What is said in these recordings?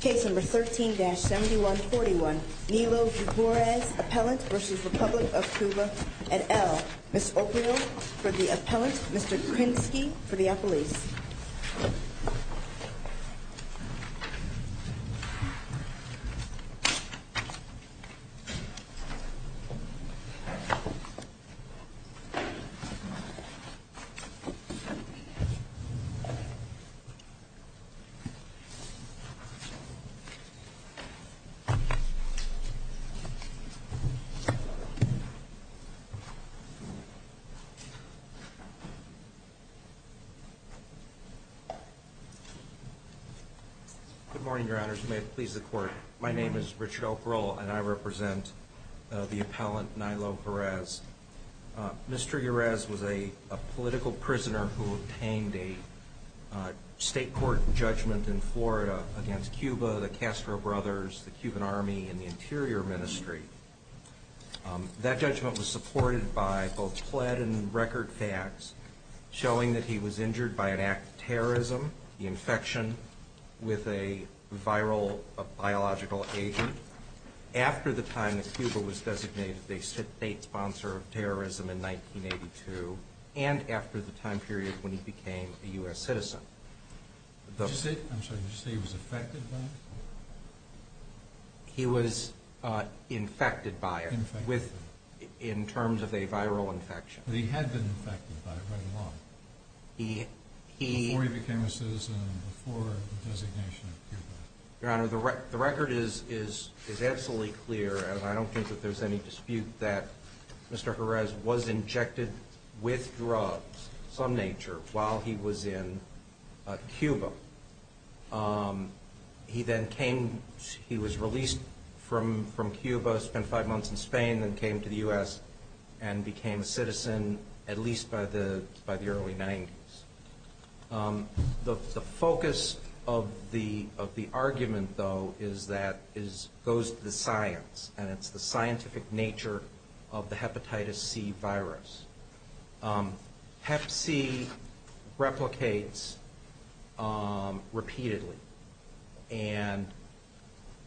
Case No. 13-7141, Nilo Jerez, Appellant v. Republic of Cuba et al. Ms. O'Connell for the Appellant, Mr. Krinsky for the Appellant. Good morning, Your Honors, and may it please the Court. My name is Richard O'Groll, and I represent the Appellant, Nilo Jerez. Mr. Jerez was a political prisoner who obtained a state court judgment in Florida against Cuba, the Castro Brothers, the Cuban Army, and the Interior Ministry. That judgment was supported by both pled and record facts showing that he was injured by an act of terrorism, the infection with a viral biological agent. After the time that Cuba was designated a state sponsor of terrorism in 1982 and after the time period when he became a U.S. citizen. Did you say he was affected by it? He was infected by it in terms of a viral infection. He had been infected by it right along before he became a citizen and before the designation of Cuba. Your Honor, the record is absolutely clear, and I don't think that there's any dispute that Mr. Jerez was injected with drugs of some nature while he was in Cuba. He then came, he was released from Cuba, spent five months in Spain, then came to the U.S. and became a citizen at least by the early 90s. The focus of the argument, though, is that it goes to the science, and it's the scientific nature of the Hepatitis C virus. Hep C replicates repeatedly, and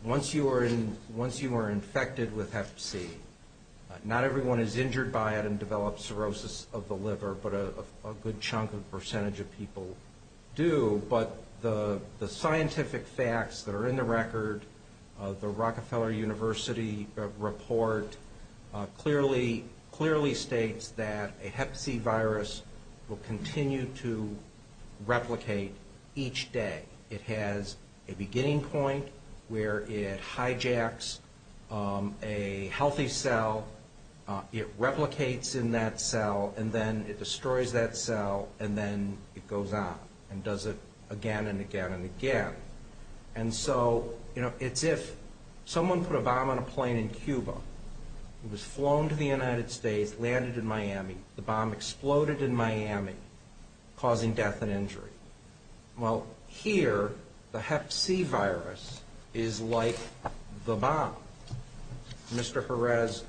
once you are infected with Hep C, not everyone is injured by it and develops cirrhosis of the liver, but a good chunk, a percentage of people do. But the scientific facts that are in the record, the Rockefeller University report, clearly states that a Hep C virus will continue to replicate each day. It has a beginning point where it hijacks a healthy cell, it replicates in that cell, and then it destroys that cell, and then it goes on and does it again and again and again. And so, you know, it's if someone put a bomb on a plane in Cuba, it was flown to the United States, landed in Miami, the bomb exploded in Miami, causing death and injury. Well, here, the Hep C virus is like the bomb. Mr. Perez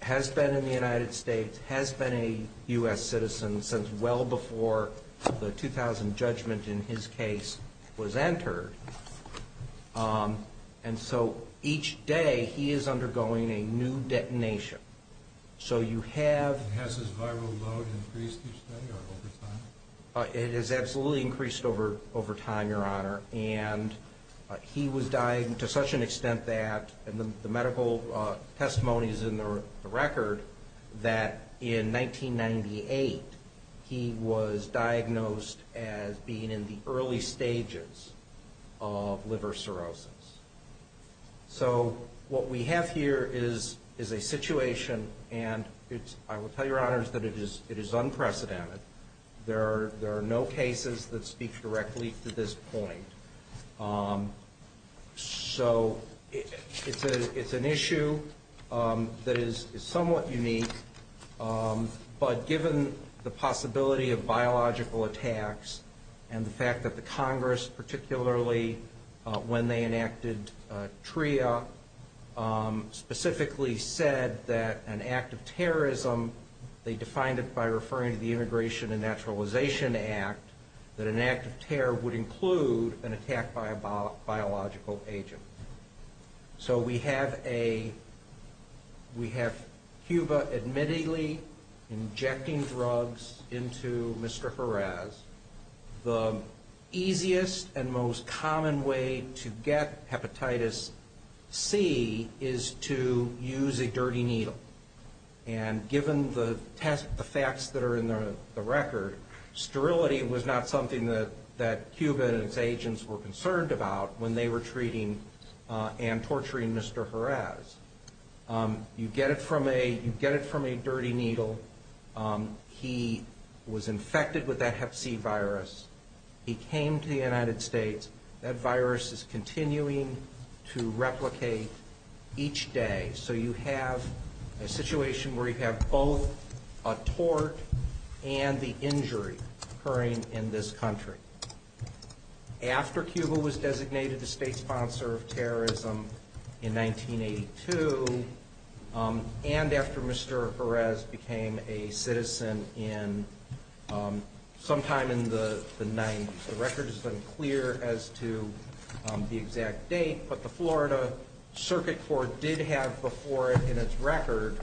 has been in the United States, has been a U.S. citizen since well before the 2000 judgment in his case was entered, and so each day he is undergoing a new detonation. So you have... Has his viral load increased each day or over time? It has absolutely increased over time, Your Honor, and he was dying to such an extent that, and the medical testimony is in the record, that in 1998 he was diagnosed as being in the early stages of liver cirrhosis. So what we have here is a situation, and I will tell Your Honors that it is unprecedented. There are no cases that speak directly to this point. So it's an issue that is somewhat unique, but given the possibility of biological attacks and the fact that the Congress, particularly when they enacted TRIA, specifically said that an act of terrorism, they defined it by referring to the Immigration and Naturalization Act, that an act of terror would include an attack by a biological agent. So we have Cuba admittedly injecting drugs into Mr. Perez. The easiest and most common way to get hepatitis C is to use a dirty needle, and given the facts that are in the record, sterility was not something that Cuba and its agents were concerned about when they were treating and torturing Mr. Perez. You get it from a dirty needle, he was infected with that hep C virus, he came to the United States, that virus is continuing to replicate each day, so you have a situation where you have both a tort and the injury occurring in this country. After Cuba was designated the state sponsor of terrorism in 1982, and after Mr. Perez became a citizen sometime in the 90s, the record is unclear as to the exact date, but the Florida Circuit Court did have before it in its record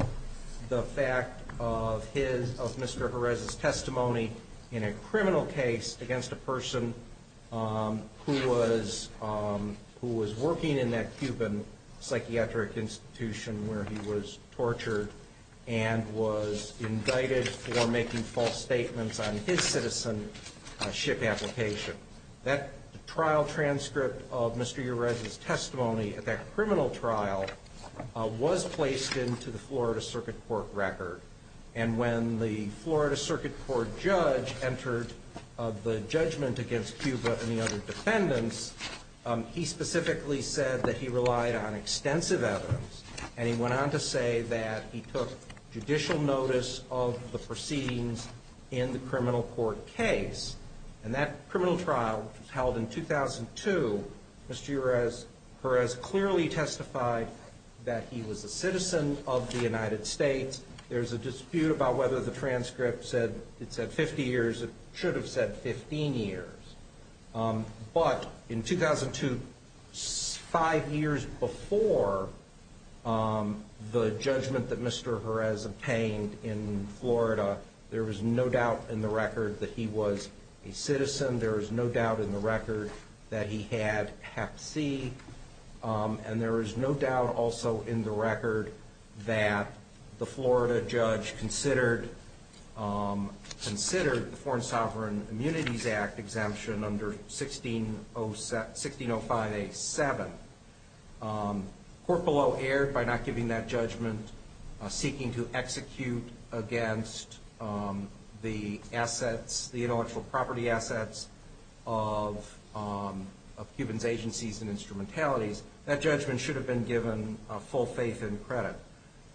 the fact of Mr. Perez's testimony in a criminal case against a person who was working in that Cuban psychiatric institution where he was tortured and was indicted for making false statements on his citizenship application. That trial transcript of Mr. Perez's testimony at that criminal trial was placed into the Florida Circuit Court record, and when the Florida Circuit Court judge entered the judgment against Cuba and the other defendants, he specifically said that he relied on extensive evidence, and he went on to say that he took judicial notice of the proceedings in the criminal court case. And that criminal trial held in 2002, Mr. Perez clearly testified that he was a citizen of the United States, there's a dispute about whether the transcript said 50 years, it should have said 15 years. But in 2002, five years before the judgment that Mr. Perez obtained in Florida, there was no doubt in the record that he was a citizen, there was no doubt in the record that he had Hep C, and there was no doubt also in the record that the Florida judge considered the Foreign Sovereign Immunities Act exemption. And under 1605A7, court below erred by not giving that judgment, seeking to execute against the assets, the intellectual property assets of Cuban's agencies and instrumentalities. That judgment should have been given full faith and credit.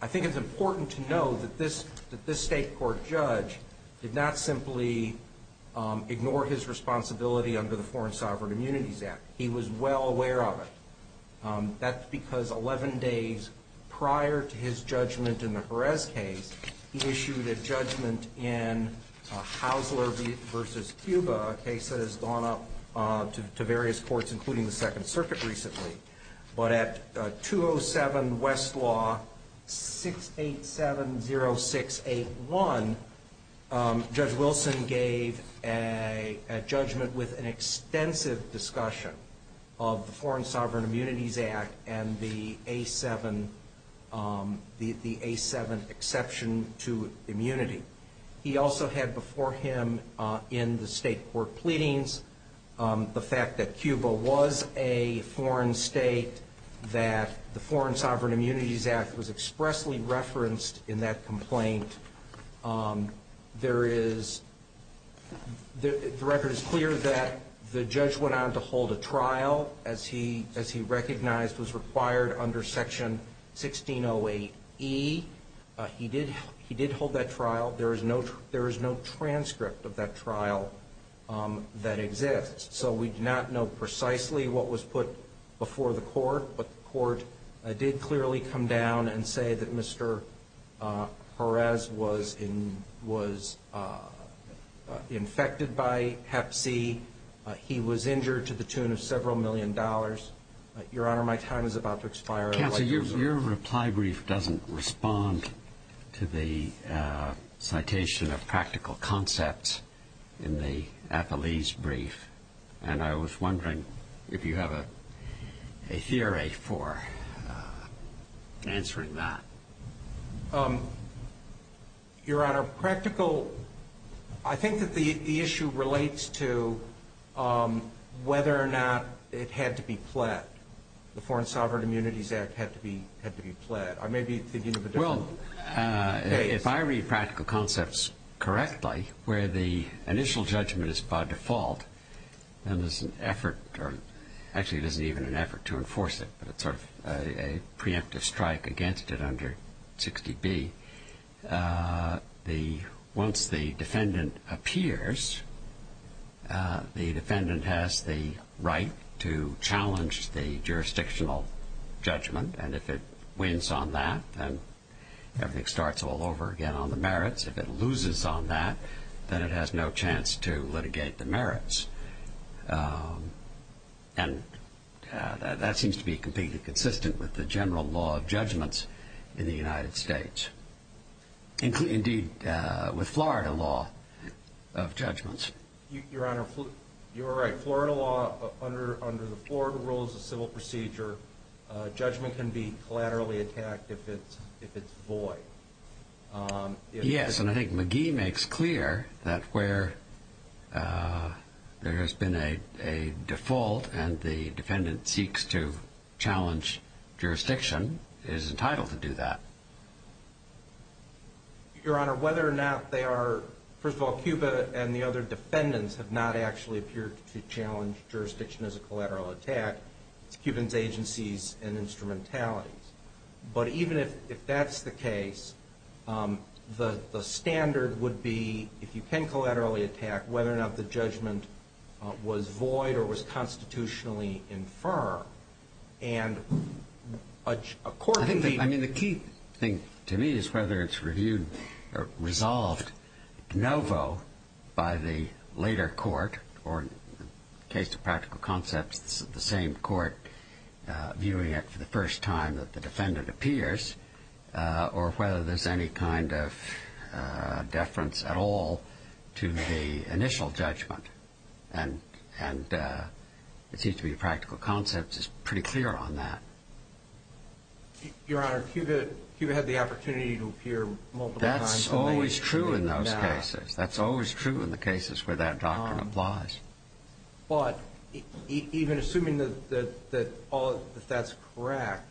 I think it's important to know that this state court judge did not simply ignore his responsibility under the Foreign Sovereign Immunities Act. He was well aware of it. That's because 11 days prior to his judgment in the Perez case, he issued a judgment in Haussler v. Cuba, a case that has gone up to various courts, including the Second Circuit recently. But at 207 Westlaw 6870681, Judge Wilson gave a judgment with an extensive discussion of the Foreign Sovereign Immunities Act and the A7 exception to immunity. He also had before him in the state court pleadings the fact that Cuba was a foreign state, that the Foreign Sovereign Immunities Act was expressly referenced in that complaint. The record is clear that the judge went on to hold a trial, as he recognized was required under Section 1608E. He did hold that trial. There is no transcript of that trial that exists. So we do not know precisely what was put before the court, but the court did clearly come down and say that Mr. Perez was infected by hep C. He was injured to the tune of several million dollars. Your Honor, my time is about to expire. Counsel, your reply brief doesn't respond to the citation of practical concepts in the appellee's brief. And I was wondering if you have a theory for answering that. Your Honor, practical, I think that the issue relates to whether or not it had to be pled. The Foreign Sovereign Immunities Act had to be pled. I may be thinking of a different case. Well, if I read practical concepts correctly, where the initial judgment is by default, then there's an effort or actually it isn't even an effort to enforce it. But it's sort of a preemptive strike against it under 60B. Once the defendant appears, the defendant has the right to challenge the jurisdictional judgment. And if it wins on that, then everything starts all over again on the merits. If it loses on that, then it has no chance to litigate the merits. And that seems to be completely consistent with the general law of judgments in the United States. Indeed, with Florida law of judgments. Your Honor, you're right. Florida law, under the Florida rules of civil procedure, judgment can be collaterally attacked if it's void. Yes, and I think McGee makes clear that where there has been a default and the defendant seeks to challenge jurisdiction, is entitled to do that. Your Honor, whether or not they are, first of all, Cuba and the other defendants have not actually appeared to challenge jurisdiction as a collateral attack. It's Cuban's agencies and instrumentalities. But even if that's the case, the standard would be, if you can collaterally attack, whether or not the judgment was void or was constitutionally infer. And according to the... I mean, the key thing to me is whether it's reviewed or resolved de novo by the later court, or in the case of practical concepts, the same court viewing it for the first time that the defendant appears, or whether there's any kind of deference at all to the initial judgment. And it seems to me practical concepts is pretty clear on that. Your Honor, Cuba had the opportunity to appear multiple times. That's always true in those cases. That's always true in the cases where that doctrine applies. But even assuming that that's correct,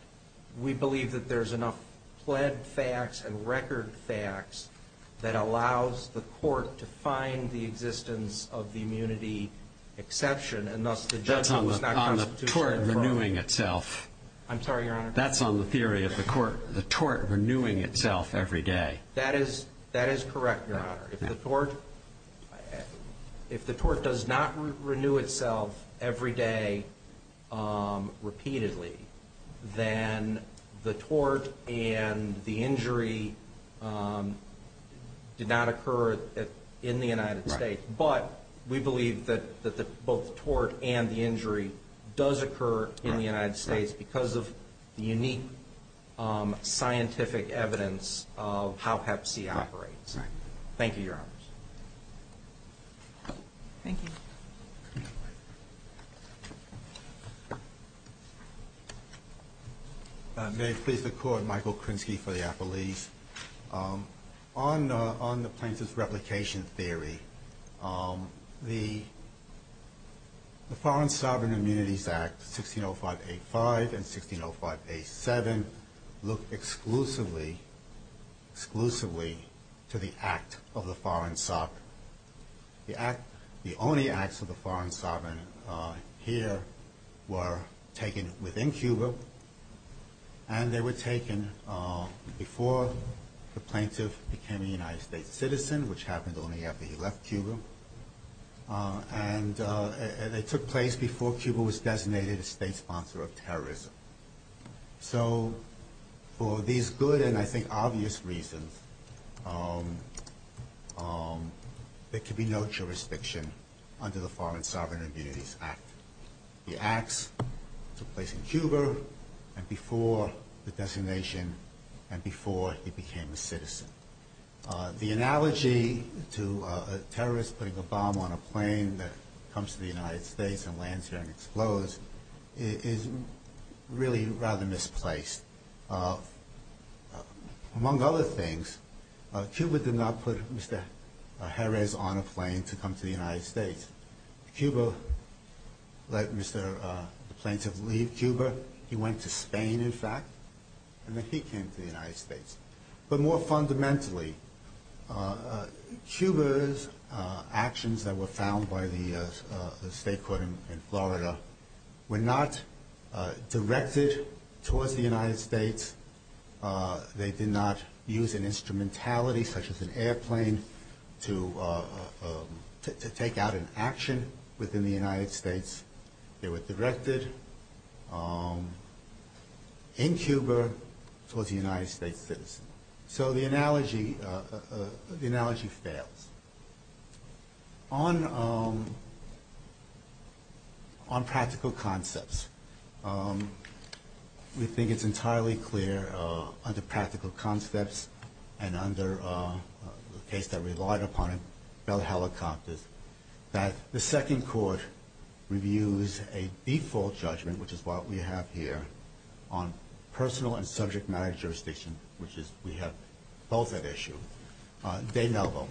we believe that there's enough plaid facts and record facts that allows the court to find the existence of the immunity exception, and thus the judgment is not constitutionally inferred. That's on the tort renewing itself. I'm sorry, Your Honor. That's on the theory of the court, the tort renewing itself every day. That is correct, Your Honor. If the tort does not renew itself every day repeatedly, then the tort and the injury did not occur in the United States. Right. But we believe that both the tort and the injury does occur in the United States because of the unique scientific evidence of how hep C operates. Right. Thank you, Your Honors. Thank you. May it please the Court, Michael Krinsky for the appellees. On the plaintiff's replication theory, the Foreign Sovereign Immunities Act, 1605A5 and 1605A7, look exclusively to the act of the foreign sovereign. The only acts of the foreign sovereign here were taken within Cuba, and they were taken before the plaintiff became a United States citizen, which happened only after he left Cuba, and it took place before Cuba was designated a state sponsor of terrorism. So for these good and, I think, obvious reasons, there could be no jurisdiction under the Foreign Sovereign Immunities Act. The acts took place in Cuba and before the designation and before he became a citizen. The analogy to a terrorist putting a bomb on a plane that comes to the United States and lands here and explodes is really rather misplaced. Among other things, Cuba did not put Mr. Jerez on a plane to come to the United States. Cuba let the plaintiff leave Cuba. He went to Spain, in fact, and then he came to the United States. But more fundamentally, Cuba's actions that were found by the state court in Florida were not directed towards the United States. They did not use an instrumentality such as an airplane to take out an action within the United States. They were directed in Cuba towards a United States citizen. So the analogy fails. On practical concepts, we think it's entirely clear under practical concepts and under the case that relied upon it, that the second court reviews a default judgment, which is what we have here, on personal and subject matter jurisdiction, which we have both at issue, de novo.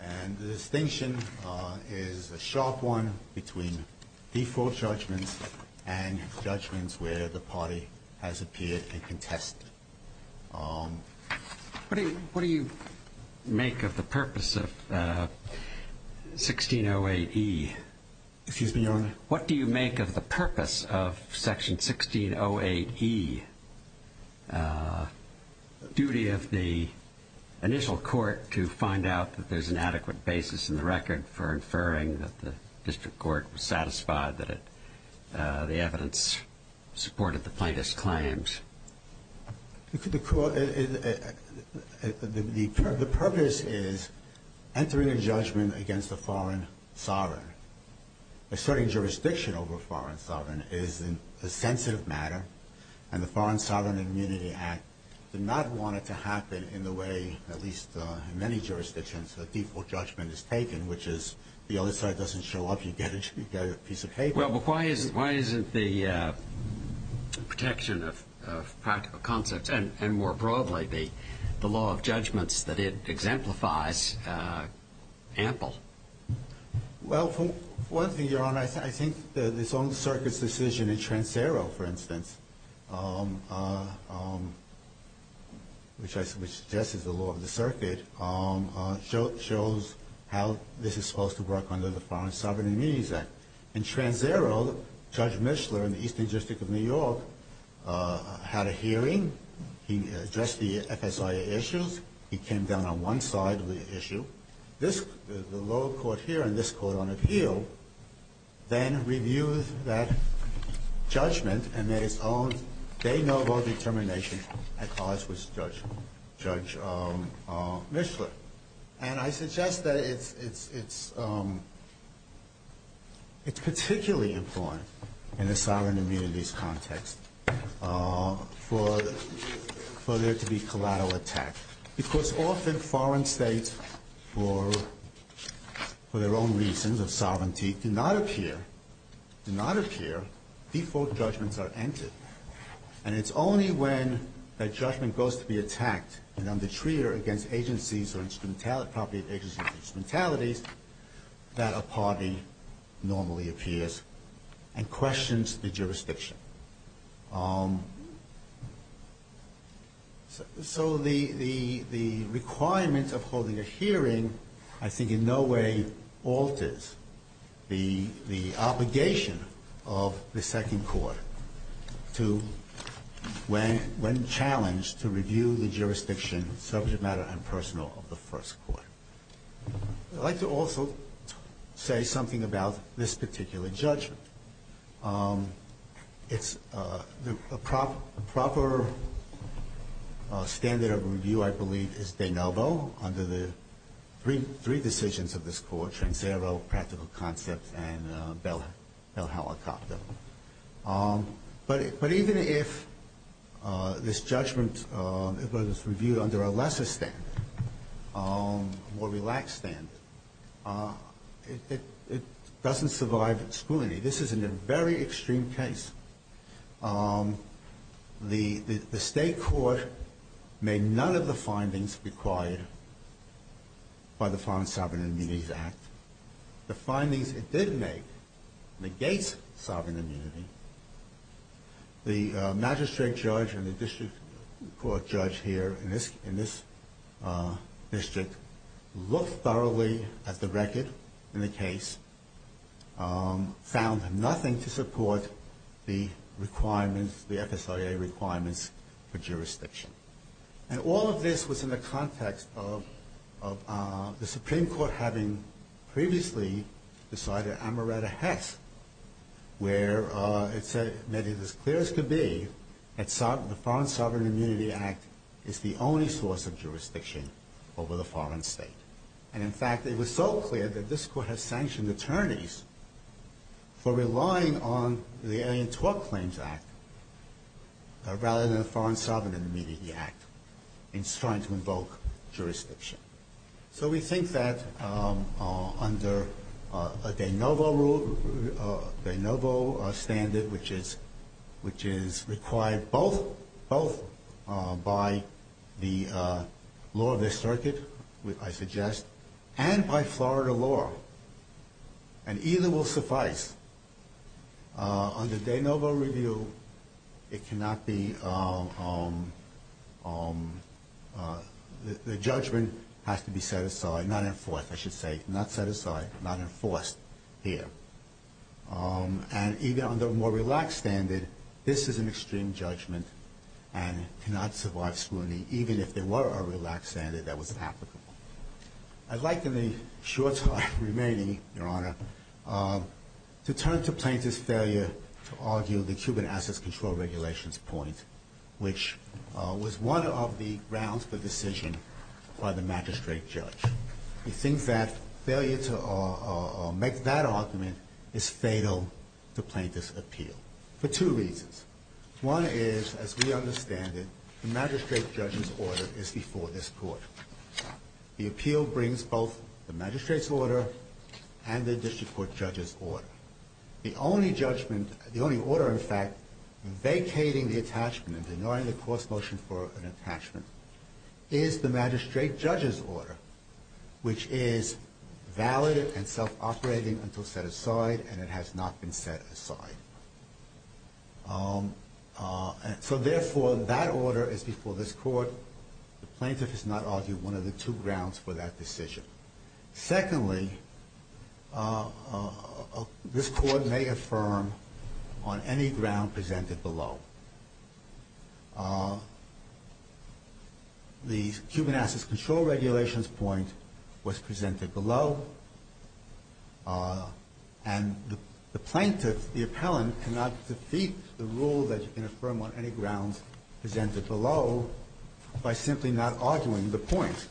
And the distinction is a sharp one between default judgments and judgments where the party has appeared and contested. What do you make of the purpose of 1608E? Excuse me, Your Honor? What do you make of the purpose of Section 1608E, duty of the initial court to find out that there's an adequate basis in the record for inferring that the district court was satisfied that the evidence supported the plaintiff's claims? The purpose is entering a judgment against a foreign sovereign. Asserting jurisdiction over a foreign sovereign is a sensitive matter, and the Foreign Sovereign Immunity Act did not want it to happen in the way, at least in many jurisdictions, a default judgment is taken, which is the other side doesn't show up, you get a piece of paper. Well, but why isn't the protection of practical concepts, and more broadly, the law of judgments that it exemplifies, ample? Well, for one thing, Your Honor, I think that this own circuit's decision in Transeiro, for instance, which I suggest is the law of the circuit, shows how this is supposed to work under the Foreign Sovereign Immunity Act. In Transeiro, Judge Mishler in the Eastern District of New York had a hearing. He addressed the FSIA issues. He came down on one side of the issue. This, the lower court here and this court on appeal, then reviewed that judgment and made its own. They know about determination at cause with Judge Mishler. And I suggest that it's particularly important in a sovereign immunities context for there to be collateral attack. Because often foreign states, for their own reasons of sovereignty, do not appear, default judgments are entered. And it's only when that judgment goes to be attacked and I'm the treater against agencies or instrumentality, property of agencies or instrumentalities, that a party normally appears and questions the jurisdiction. So the requirement of holding a hearing I think in no way alters the obligation of the second court to, when challenged, to review the jurisdiction subject matter and personal of the first court. I'd like to also say something about this particular judgment. It's a proper standard of review, I believe, is de novo under the three decisions of this court, Transervo, Practical Concepts, and Bell Helicopter. But even if this judgment was reviewed under a lesser standard, a more relaxed standard, it doesn't survive scrutiny. This is a very extreme case. The state court made none of the findings required by the Foreign Sovereign Immunities Act. The findings it did make negates sovereign immunity. The magistrate judge and the district court judge here in this district looked thoroughly at the record in the case, found nothing to support the requirements, the FSIA requirements for jurisdiction. And all of this was in the context of the Supreme Court having previously decided Amaretta-Hess, where it said that it is as clear as could be that the Foreign Sovereign Immunity Act is the only source of jurisdiction over the foreign state. And in fact, it was so clear that this court has sanctioned attorneys for relying on the Alien Tort Claims Act rather than the Foreign Sovereign Immunity Act in trying to invoke jurisdiction. So we think that under a de novo rule, a de novo standard, which is required both by the law of the circuit, which I suggest, and by Florida law, and either will suffice. Under de novo review, it cannot be, the judgment has to be set aside, not enforced, I should say, not set aside, not enforced here. And even under a more relaxed standard, this is an extreme judgment and cannot survive scrutiny, even if there were a relaxed standard that was applicable. I'd like in the short time remaining, Your Honor, to turn to plaintiff's failure to argue the Cuban Assets Control Regulations point, which was one of the grounds for decision by the magistrate judge. We think that failure to make that argument is fatal to plaintiff's appeal for two reasons. One is, as we understand it, the magistrate judge's order is before this court. The appeal brings both the magistrate's order and the district court judge's order. The only judgment, the only order, in fact, vacating the attachment and denying the court's motion for an attachment, is the magistrate judge's order, which is valid and self-operating until set aside, and it has not been set aside. So therefore, that order is before this court. The plaintiff has not argued one of the two grounds for that decision. Secondly, this court may affirm on any ground presented below. The Cuban Assets Control Regulations point was presented below, and the plaintiff, the appellant, cannot defeat the rule that you can affirm on any grounds presented below by simply not arguing the point.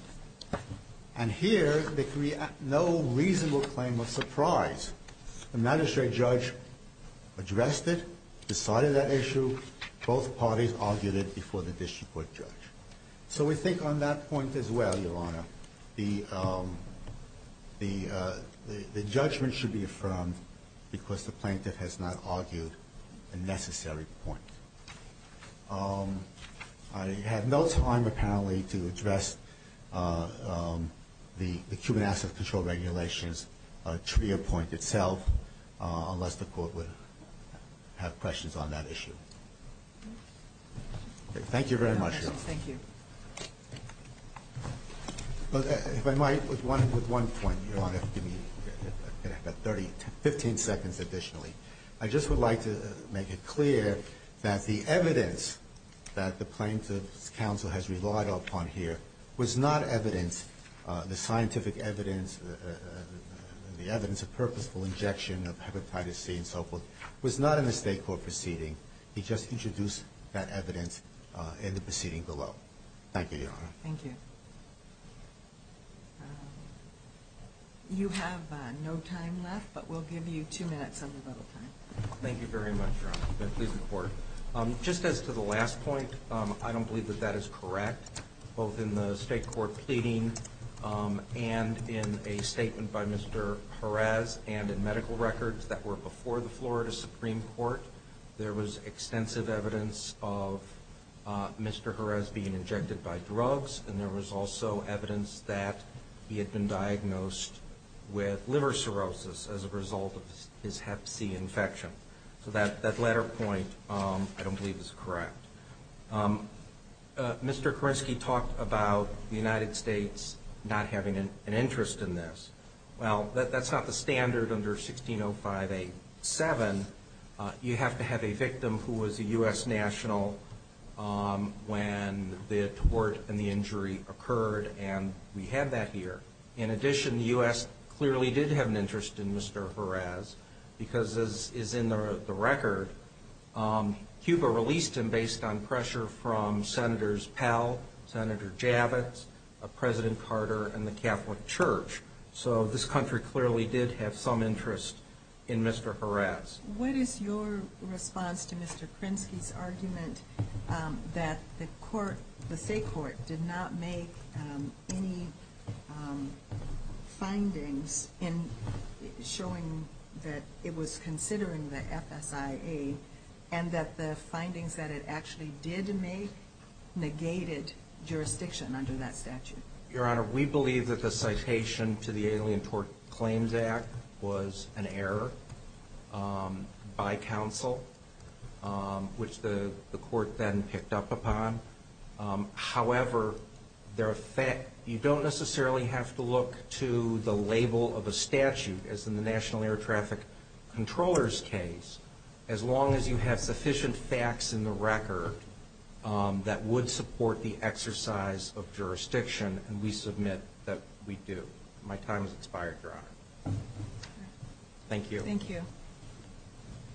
And here, there can be no reasonable claim of surprise. The magistrate judge addressed it, decided that issue. Both parties argued it before the district court judge. So we think on that point as well, Your Honor, the judgment should be affirmed because the plaintiff has not argued a necessary point. I have no time, apparently, to address the Cuban Assets Control Regulations trivia point itself, unless the court would have questions on that issue. Thank you very much, Your Honor. Thank you. If I might, with one point, Your Honor, give me about 30, 15 seconds additionally. I just would like to make it clear that the evidence that the plaintiff's counsel has relied upon here was not evidence, the scientific evidence, the evidence of purposeful injection of hepatitis C and so forth, was not in the state court proceeding. He just introduced that evidence in the proceeding below. Thank you, Your Honor. Thank you. You have no time left, but we'll give you two minutes of your little time. Thank you very much, Your Honor. I'm pleased to report. Just as to the last point, I don't believe that that is correct. Both in the state court pleading and in a statement by Mr. Jerez and in medical records that were before the Florida Supreme Court, there was extensive evidence of Mr. Jerez being injected by drugs, and there was also evidence that he had been diagnosed with liver cirrhosis as a result of his hep C infection. So that latter point I don't believe is correct. Mr. Kerensky talked about the United States not having an interest in this. Well, that's not the standard under 1605A7. You have to have a victim who was a U.S. national when the tort and the injury occurred, and we have that here. In addition, the U.S. clearly did have an interest in Mr. Jerez because, as is in the record, Cuba released him based on pressure from Senators Powell, Senator Javits, President Carter, and the Catholic Church. So this country clearly did have some interest in Mr. Jerez. What is your response to Mr. Kerensky's argument that the state court did not make any findings in showing that it was considering the FSIA and that the findings that it actually did make negated jurisdiction under that statute? Your Honor, we believe that the citation to the Alien Tort Claims Act was an error by counsel, which the court then picked up upon. However, you don't necessarily have to look to the label of a statute, as in the National Air Traffic Controllers case, as long as you have sufficient facts in the record that would support the exercise of jurisdiction, and we submit that we do. My time has expired, Your Honor. Thank you.